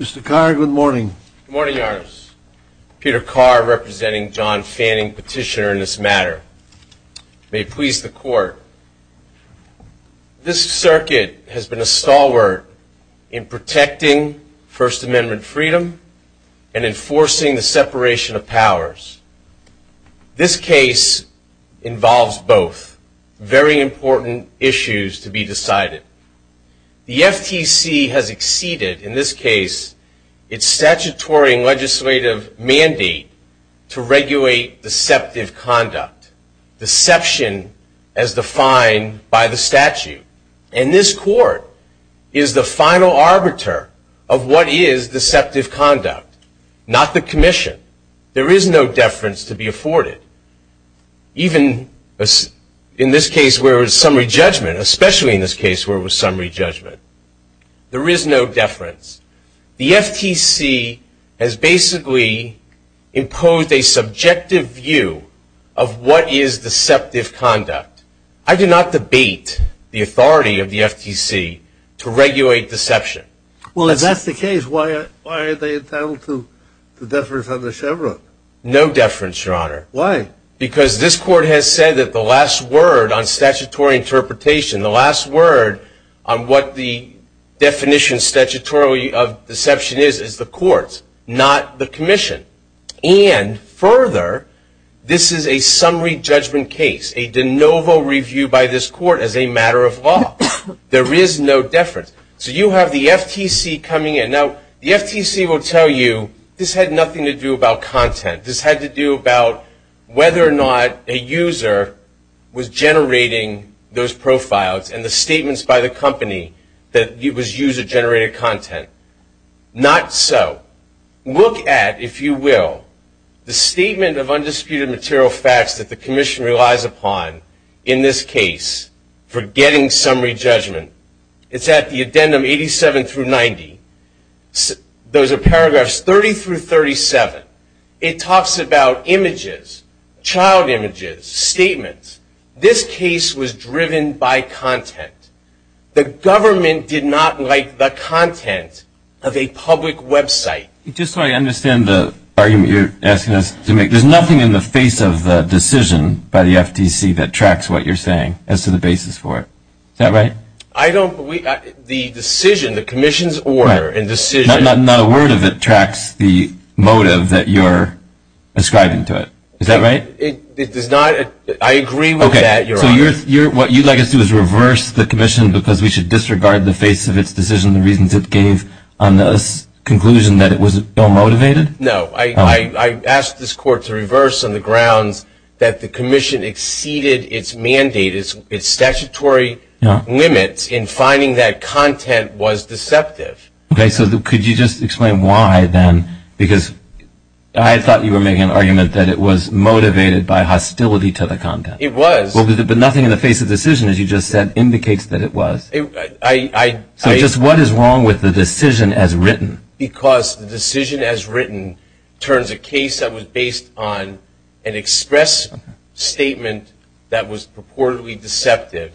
Mr. Carr, good morning. Good morning, Your Honors. Peter Carr, representing John Fanning, Petitioner in this matter. May it please the Court. This circuit has been a stalwart in protecting First Amendment freedom and enforcing the separation of powers. This case involves both very important issues to be decided. The FTC has exceeded, in this case, its statutory and legislative mandate to regulate deceptive conduct. Deception as defined by the statute. And this Court is the final arbiter of what is deceptive conduct, not the Commission. There is no deference to be afforded. Even in this case where it was summary judgment, especially in this case where it was summary judgment, there is no deference. The FTC has basically imposed a subjective view of what is deceptive conduct. I do not debate the authority of the FTC to regulate deception. Well, if that's the case, why are they entitled to deference under Chevron? No deference, Your Honor. Why? Because this Court has said that the last word on statutory interpretation, the last word on what the definition statutorily of deception is, is the Court's, not the Commission. And further, this is a summary judgment case, a de novo review by this Court as a matter of law. There is no deference. So you have the FTC coming in. Now, the FTC will tell you this had nothing to do about content. This had to do about whether or not a user was generating those profiles and the statements by the company that it was user-generated content. Not so. Look at, if you will, the statement of undisputed material facts that the Commission relies upon in this case for getting summary judgment. It's at the addendum 87 through 90. Those are paragraphs 30 through 37. It talks about images, child images, statements. This case was driven by content. The government did not like the content of a public website. Just so I understand the argument you're asking us to make, there's nothing in the face of the decision by the FTC that tracks what you're saying as to the basis for it. Is that right? I don't believe that. The decision, the Commission's order and decision. Not a word of it tracks the motive that you're ascribing to it. Is that right? It does not. I agree with that, Your Honor. Okay. So what you'd like us to do is reverse the Commission because we should disregard the face of its decision, the reasons it gave on this conclusion that it was ill-motivated? No. I asked this Court to reverse on the grounds that the Commission exceeded its mandate, its statutory limits in finding that content was deceptive. Okay. So could you just explain why then? Because I thought you were making an argument that it was motivated by hostility to the content. It was. But nothing in the face of the decision, as you just said, indicates that it was. So just what is wrong with the decision as written? Because the decision as written turns a case that was based on an express statement that was purportedly deceptive,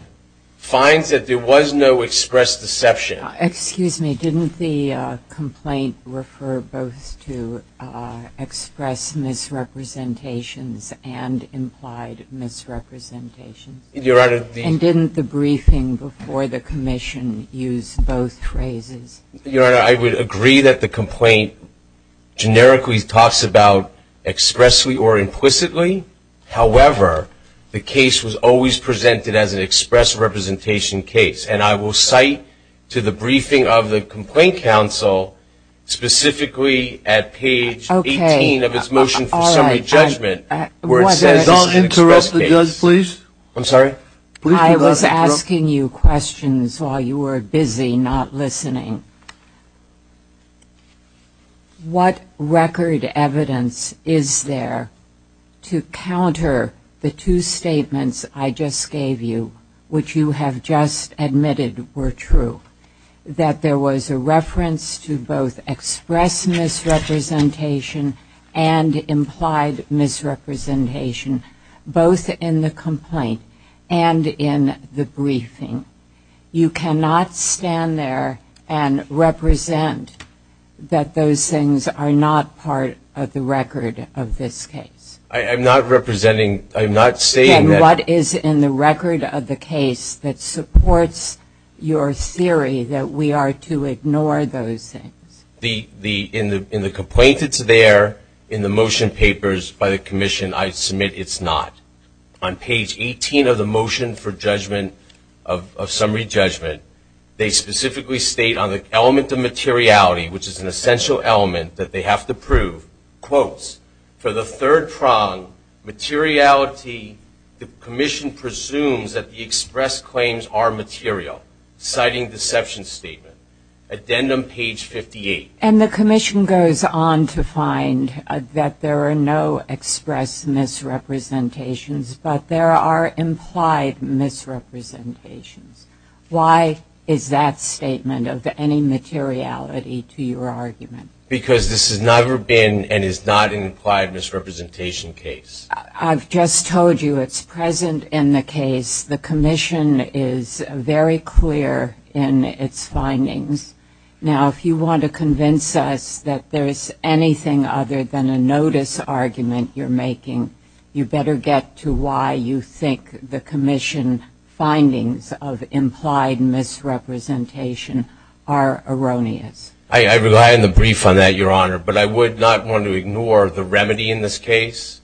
finds that there was no express deception. Excuse me. Didn't the complaint refer both to express misrepresentations and implied misrepresentations? Your Honor. And didn't the briefing before the Commission use both phrases? Your Honor, I would agree that the complaint generically talks about expressly or implicitly. However, the case was always presented as an express representation case. And I will cite to the briefing of the Complaint Council, specifically at page 18 of its motion for summary judgment, where it says it's an express case. I was asking you questions while you were busy not listening. What record evidence is there to counter the two statements I just gave you, which you have just admitted were true, that there was a reference to both express misrepresentation and implied misrepresentation, both in the complaint and in the briefing? You cannot stand there and represent that those things are not part of the record of this case. I'm not representing. I'm not saying that. And what is in the record of the case that supports your theory that we are to ignore those things? In the complaint, it's there. In the motion papers by the Commission, I submit it's not. On page 18 of the motion for judgment of summary judgment, they specifically state on the element of materiality, which is an essential element that they have to prove, quotes, for the third prong, materiality, the Commission presumes that the express claims are material, citing deception statement, addendum page 58. And the Commission goes on to find that there are no express misrepresentations, but there are implied misrepresentations. Why is that statement of any materiality to your argument? Because this has never been and is not an implied misrepresentation case. I've just told you it's present in the case. The Commission is very clear in its findings. Now, if you want to convince us that there is anything other than a notice argument you're making, you better get to why you think the Commission findings of implied misrepresentation are erroneous. I rely on the brief on that, Your Honor. But I would not want to ignore the remedy in this case,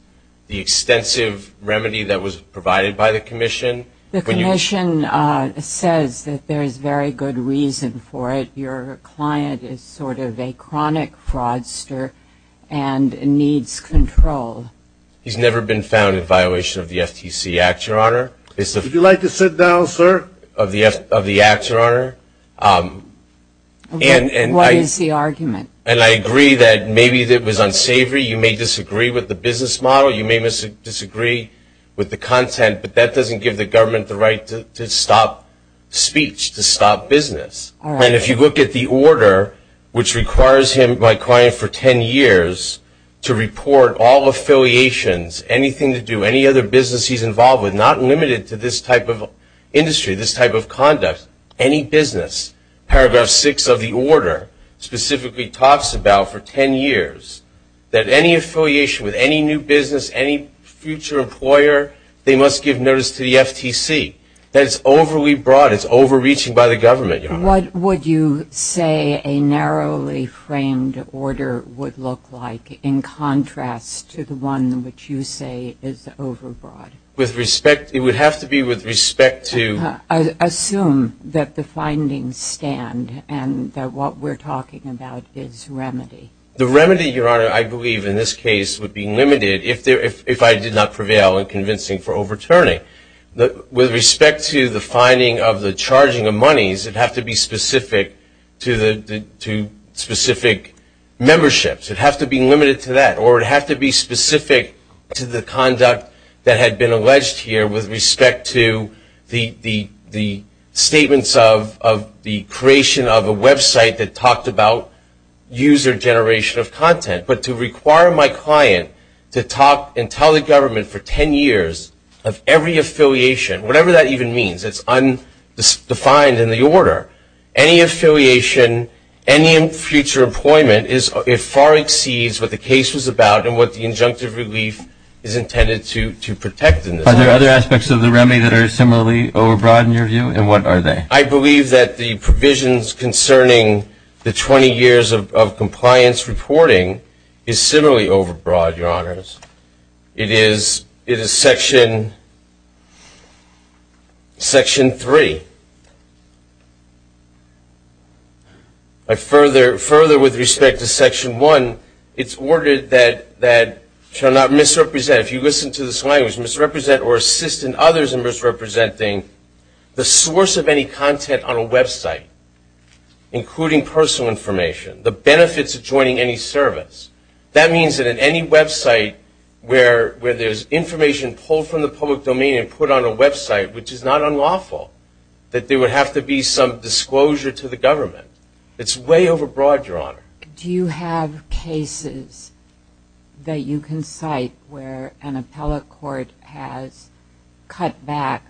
the extensive remedy that was provided by the Commission. The Commission says that there is very good reason for it. Your client is sort of a chronic fraudster and needs control. He's never been found in violation of the FTC Act, Your Honor. Would you like to sit down, sir? Of the Act, Your Honor. What is the argument? And I agree that maybe it was unsavory. You may disagree with the business model. You may disagree with the content. But that doesn't give the government the right to stop speech, to stop business. And if you look at the order, which requires him, my client, for ten years to report all affiliations, anything to do, any other business he's involved with, not limited to this type of industry, this type of conduct, any business. Paragraph six of the order specifically talks about, for ten years, that any affiliation with any new business, any future employer, they must give notice to the FTC. That it's overly broad. It's overreaching by the government, Your Honor. What would you say a narrowly framed order would look like in contrast to the one which you say is overbroad? With respect, it would have to be with respect to. Assume that the findings stand and that what we're talking about is remedy. The remedy, Your Honor, I believe in this case would be limited if I did not prevail in convincing for overturning. With respect to the finding of the charging of monies, it would have to be specific to specific memberships. It would have to be limited to that. Or it would have to be specific to the conduct that had been alleged here with respect to the statements of the creation of a website that talked about user generation of content. But to require my client to talk and tell the government for ten years of every affiliation, whatever that even means, it's undefined in the order, any affiliation, any future employment, it far exceeds what the case was about and what the injunctive relief is intended to protect in this case. Are there other aspects of the remedy that are similarly overbroad in your view? And what are they? I believe that the provisions concerning the 20 years of compliance reporting is similarly overbroad, Your Honors. It is Section 3. Further, with respect to Section 1, it's ordered that shall not misrepresent. If you listen to this language, misrepresent or assist in others in misrepresenting the source of any content on a website, including personal information, the benefits of joining any service. That means that in any website where there's information pulled from the public domain and put on a website, which is not unlawful, that there would have to be some disclosure to the government. It's way overbroad, Your Honor. Do you have cases that you can cite where an appellate court has cut back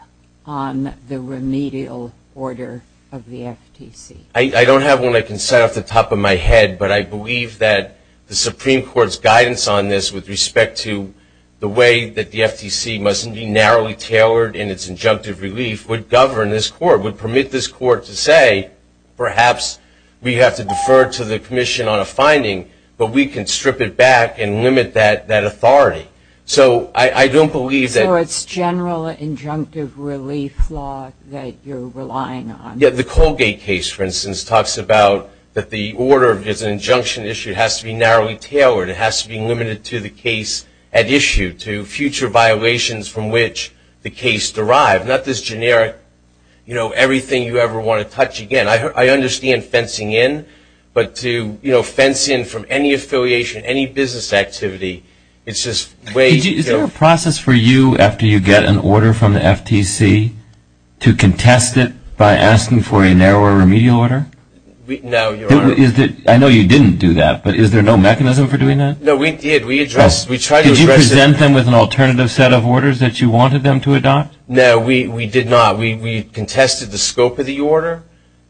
on the remedial order of the FTC? I don't have one I can say off the top of my head, but I believe that the Supreme Court's guidance on this with respect to the way that the FTC must be narrowly tailored in its injunctive relief would govern this court, would permit this court to say, all right, perhaps we have to defer to the commission on a finding, but we can strip it back and limit that authority. So I don't believe that. So it's general injunctive relief law that you're relying on? Yeah, the Colgate case, for instance, talks about that the order of an injunction issue has to be narrowly tailored. It has to be limited to the case at issue, to future violations from which the case derived. Not this generic, you know, everything you ever want to touch again. I understand fencing in, but to fence in from any affiliation, any business activity, it's just way too... Is there a process for you, after you get an order from the FTC, to contest it by asking for a narrower remedial order? No, Your Honor. I know you didn't do that, but is there no mechanism for doing that? No, we did. Did you present them with an alternative set of orders that you wanted them to adopt? No, we did not. We contested the scope of the order,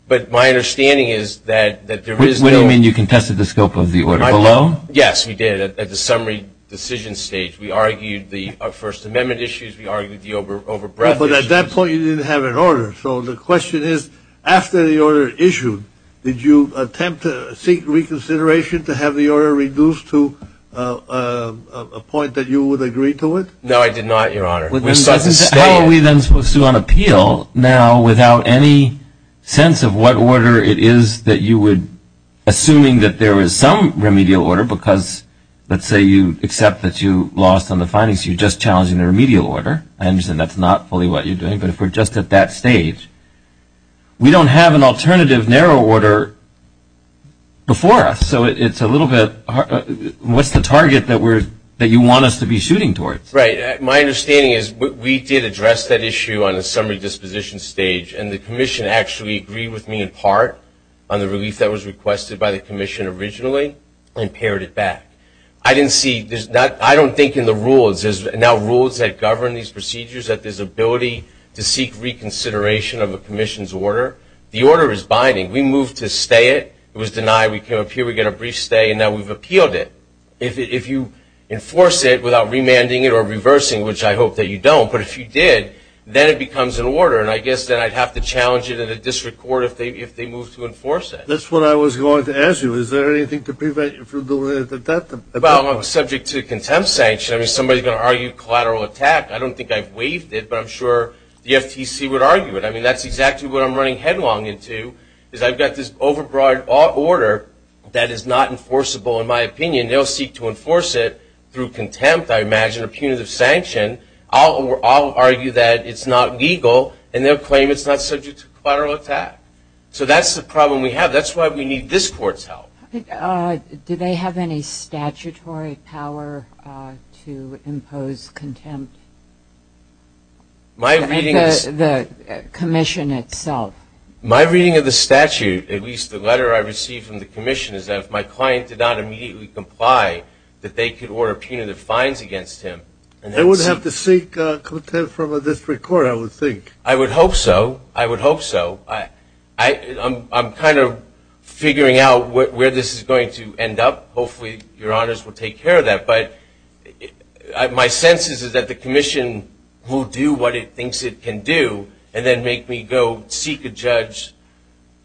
but my understanding is that there is no... What do you mean, you contested the scope of the order below? Yes, we did. At the summary decision stage, we argued the First Amendment issues. We argued the overbreadth issues. But at that point, you didn't have an order. So the question is, after the order issued, did you attempt to seek reconsideration to have the order reduced to a point that you would agree to it? No, I did not, Your Honor. How are we then supposed to go on appeal now without any sense of what order it is that you would, assuming that there is some remedial order, because let's say you accept that you lost on the findings, you're just challenging the remedial order. I understand that's not fully what you're doing. But if we're just at that stage, we don't have an alternative narrow order before us. So it's a little bit, what's the target that you want us to be shooting towards? Right. My understanding is we did address that issue on the summary disposition stage, and the commission actually agreed with me in part on the relief that was requested by the commission originally and pared it back. I didn't see, I don't think in the rules, there's now rules that govern these procedures that there's ability to seek reconsideration of a commission's order. The order is binding. We moved to stay it. It was denied. We came up here, we got a brief stay, and now we've appealed it. If you enforce it without remanding it or reversing, which I hope that you don't, but if you did, then it becomes an order. And I guess then I'd have to challenge it in a district court if they move to enforce it. That's what I was going to ask you. Is there anything to prevent you from doing it at that point? Well, I'm subject to contempt sanction. I mean, somebody's going to argue collateral attack. I don't think I've waived it, but I'm sure the FTC would argue it. I mean, that's exactly what I'm running headlong into, is I've got this overbroad order that is not enforceable in my opinion. They'll seek to enforce it through contempt, I imagine, or punitive sanction. I'll argue that it's not legal, and they'll claim it's not subject to collateral attack. So that's the problem we have. That's why we need this court's help. Do they have any statutory power to impose contempt? The commission itself. My reading of the statute, at least the letter I received from the commission, is that if my client did not immediately comply, that they could order punitive fines against him. They would have to seek contempt from a district court, I would think. I would hope so. I would hope so. I'm kind of figuring out where this is going to end up. Hopefully your honors will take care of that. But my sense is that the commission will do what it thinks it can do and then make me go seek a judge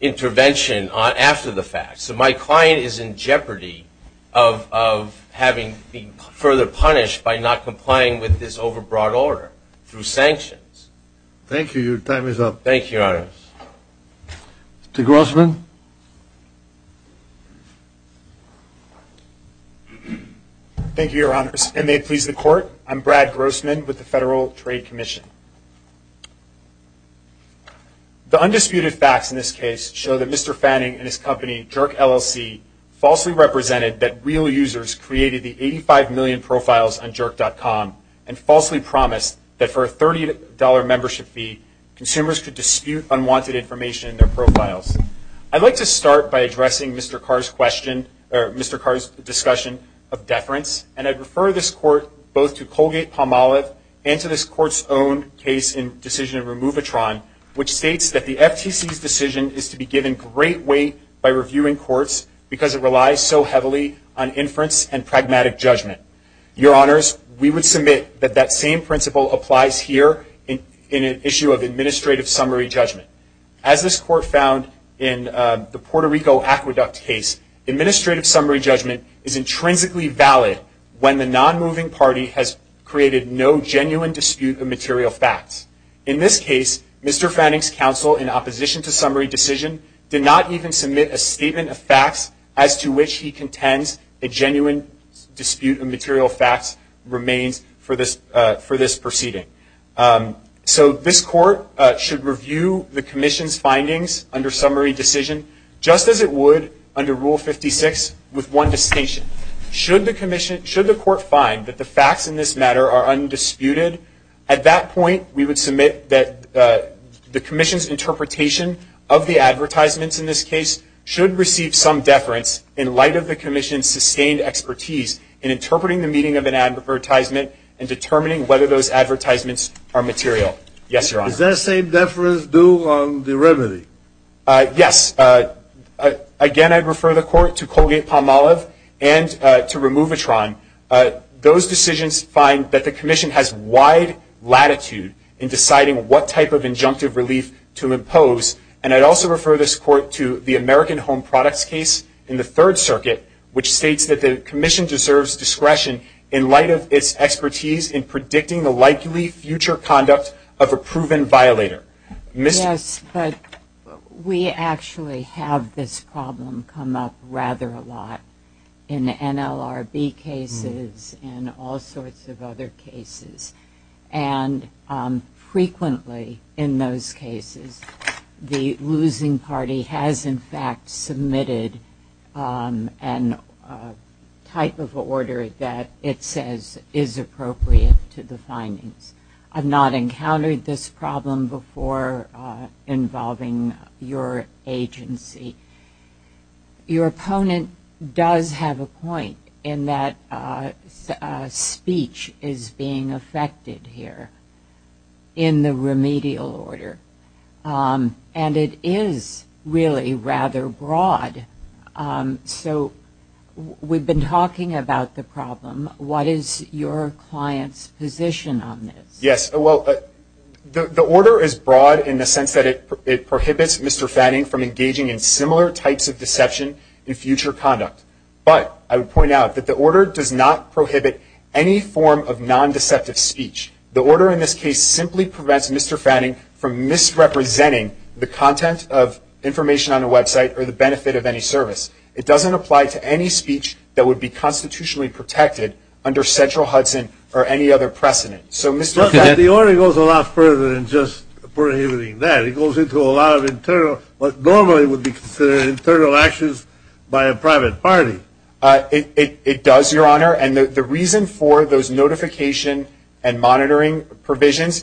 intervention after the fact. So my client is in jeopardy of having been further punished by not complying with this overbroad order through sanctions. Thank you. Your time is up. Thank you, your honors. Mr. Grossman. Thank you, your honors. And may it please the court, I'm Brad Grossman with the Federal Trade Commission. The undisputed facts in this case show that Mr. Fanning and his company, Jerk LLC, falsely represented that real users created the 85 million profiles on jerk.com and falsely promised that for a $30 membership fee, consumers could dispute unwanted information in their profiles. I'd like to start by addressing Mr. Carr's discussion of deference, and I'd refer this court both to Colgate-Palmolive and to this court's own case in Decision of Removitron, which states that the FTC's decision is to be given great weight by reviewing courts because it relies so heavily on inference and pragmatic judgment. Your honors, we would submit that that same principle applies here in an issue of administrative summary judgment. As this court found in the Puerto Rico aqueduct case, administrative summary judgment is intrinsically valid when the non-moving party has created no genuine dispute of material facts. In this case, Mr. Fanning's counsel, in opposition to summary decision, did not even submit a statement of facts as to which he contends a genuine dispute of material facts remains for this proceeding. So this court should review the commission's findings under summary decision, just as it would under Rule 56, with one distinction. Should the court find that the facts in this matter are undisputed, at that point we would submit that the commission's interpretation of the advertisements in this case should receive some deference in light of the commission's sustained expertise in interpreting the meaning of an advertisement and determining whether those advertisements are material. Yes, your honors. Is that same deference due on the remedy? Yes. Again, I'd refer the court to Colgate-Palmolive and to Removitron. Those decisions find that the commission has wide latitude in deciding what type of injunctive relief to impose, and I'd also refer this court to the American Home Products case in the Third Circuit, which states that the commission deserves discretion in light of its expertise in predicting the likely future conduct of a proven violator. Yes, but we actually have this problem come up rather a lot in NLRB cases and all sorts of other cases, and frequently in those cases the losing party has in fact submitted a type of order that it says is appropriate to the findings. I've not encountered this problem before involving your agency. Your opponent does have a point in that speech is being affected here in the remedial order, and it is really rather broad. So we've been talking about the problem. What is your client's position on this? Yes. Well, the order is broad in the sense that it prohibits Mr. Fanning from engaging in similar types of deception in future conduct, but I would point out that the order does not prohibit any form of non-deceptive speech. The order in this case simply prevents Mr. Fanning from misrepresenting the content of information on the website or the benefit of any service. It doesn't apply to any speech that would be constitutionally protected under central Hudson or any other precedent. So, Mr. Fanning, The order goes a lot further than just prohibiting that. It goes into a lot of internal, what normally would be considered internal actions by a private party. It does, Your Honor, and the reason for those notification and monitoring provisions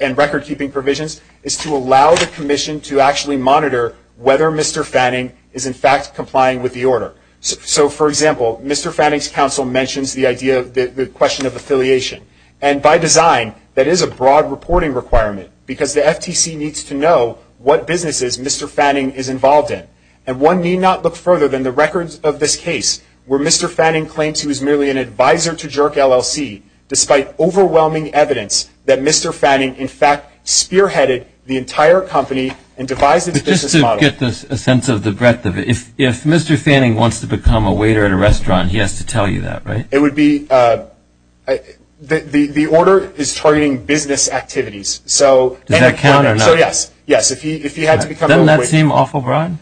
and record-keeping provisions is to allow the commission to actually monitor whether Mr. Fanning is, in fact, complying with the order. So, for example, Mr. Fanning's counsel mentions the question of affiliation, and by design that is a broad reporting requirement because the FTC needs to know what businesses Mr. Fanning is involved in, and one need not look further than the records of this case where Mr. Fanning claims he was merely an advisor to Jerk LLC, despite overwhelming evidence that Mr. Fanning, in fact, spearheaded the entire company and devised a business model. But just to get a sense of the breadth of it, if Mr. Fanning wants to become a waiter at a restaurant, he has to tell you that, right? It would be, the order is targeting business activities, so Does that count or not? So, yes, yes, if he had to become a waiter. Does that seem awful broad?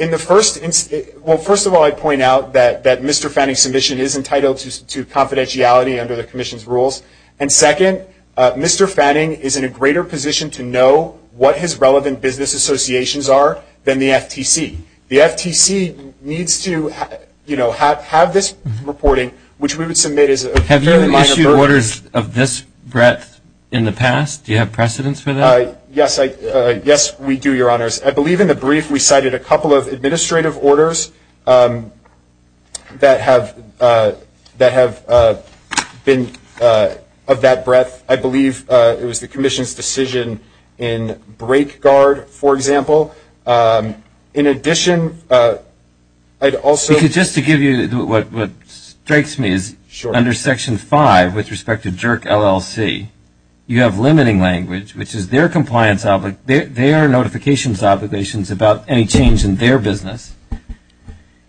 In the first instance, well, first of all, I point out that Mr. Fanning's submission is entitled to confidentiality under the commission's rules, and second, Mr. Fanning is in a greater position to know what his relevant business associations are than the FTC. The FTC needs to, you know, have this reporting, which we would submit as a Have you issued orders of this breadth in the past? Do you have precedence for that? Yes, we do, Your Honors. I believe in the brief we cited a couple of administrative orders that have been of that breadth. I believe it was the commission's decision in BrakeGuard, for example. In addition, I'd also Just to give you what strikes me is under Section 5, with respect to Jerk LLC, you have limiting language, which is their compliance, their notifications obligations about any change in their business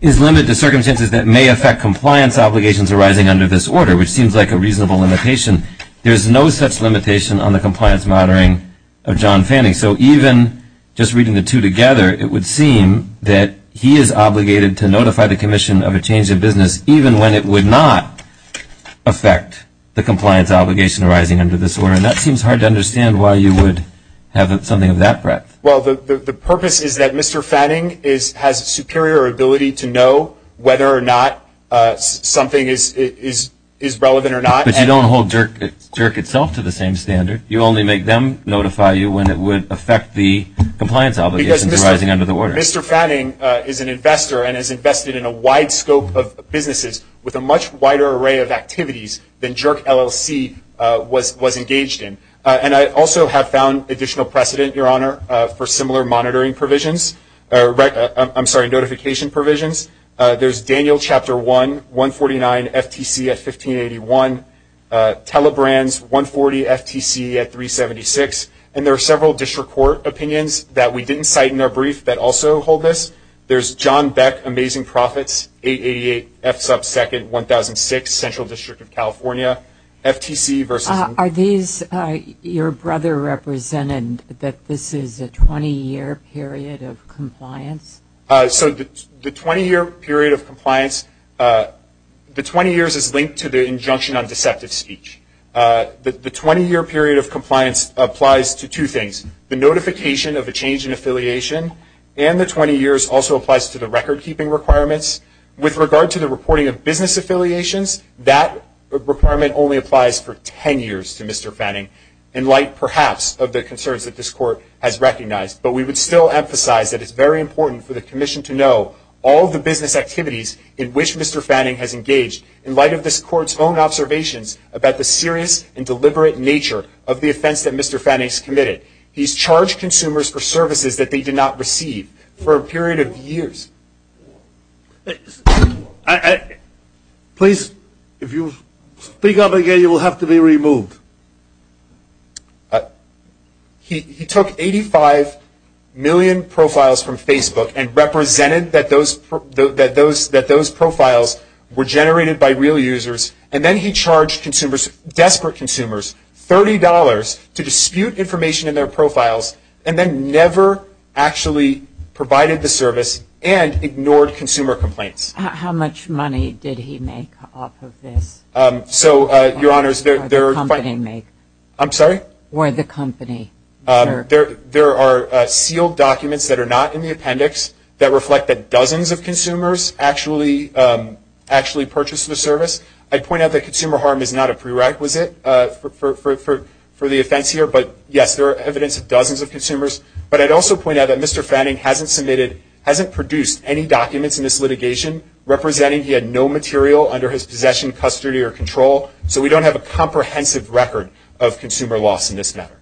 is limited to circumstances that may affect compliance obligations arising under this order, which seems like a reasonable limitation. There's no such limitation on the compliance monitoring of John Fanning. So even just reading the two together, it would seem that he is obligated to notify the commission of a change in business, even when it would not affect the compliance obligation arising under this order. And that seems hard to understand why you would have something of that breadth. Well, the purpose is that Mr. Fanning has a superior ability to know whether or not something is relevant or not. But you don't hold Jerk itself to the same standard. You only make them notify you when it would affect the compliance obligations arising under the order. Mr. Fanning is an investor and has invested in a wide scope of businesses with a much wider array of activities than Jerk LLC was engaged in. And I also have found additional precedent, Your Honor, for similar monitoring provisions. I'm sorry, notification provisions. There's Daniel Chapter 1, 149 FTC at 1581, Telebrands 140 FTC at 376. And there are several district court opinions that we didn't cite in our brief that also hold this. There's John Beck, Amazing Profits, 888 F sub 2nd, 1006 Central District of California, FTC versus. Are these your brother represented, that this is a 20-year period of compliance? So the 20-year period of compliance, the 20 years is linked to the injunction on deceptive speech. The 20-year period of compliance applies to two things. The notification of a change in affiliation and the 20 years also applies to the record-keeping requirements. With regard to the reporting of business affiliations, that requirement only applies for 10 years to Mr. Fanning. In light, perhaps, of the concerns that this court has recognized. But we would still emphasize that it's very important for the commission to know all the business activities in which Mr. Fanning has engaged. In light of this court's own observations about the serious and deliberate nature of the offense that Mr. Fanning has committed. He's charged consumers for services that they did not receive for a period of years. Please, if you speak up again, you will have to be removed. He took 85 million profiles from Facebook and represented that those profiles were generated by real users. And then he charged consumers, desperate consumers, $30 to dispute information in their profiles. And then never actually provided the service and ignored consumer complaints. How much money did he make off of this? So, your honors, there are... How much money did the company make? I'm sorry? Or the company? There are sealed documents that are not in the appendix that reflect that dozens of consumers actually purchased the service. I'd point out that consumer harm is not a prerequisite for the offense here. But, yes, there are evidence of dozens of consumers. But I'd also point out that Mr. Fanning hasn't submitted, hasn't produced any documents in this litigation representing he had no material under his possession, custody, or control. So, we don't have a comprehensive record of consumer loss in this matter.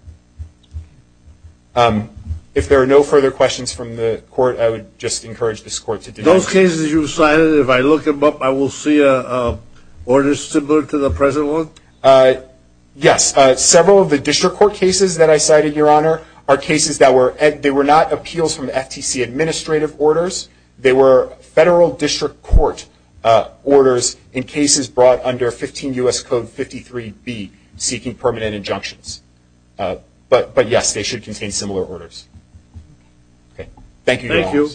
If there are no further questions from the court, I would just encourage this court to... Those cases you cited, if I look them up, I will see orders similar to the present one? Yes. Several of the district court cases that I cited, your honor, are cases that were... They were not appeals from the FTC administrative orders. They were federal district court orders in cases brought under 15 U.S. Code 53B, seeking permanent injunctions. But, yes, they should contain similar orders. Okay. Thank you, your honor. Thank you.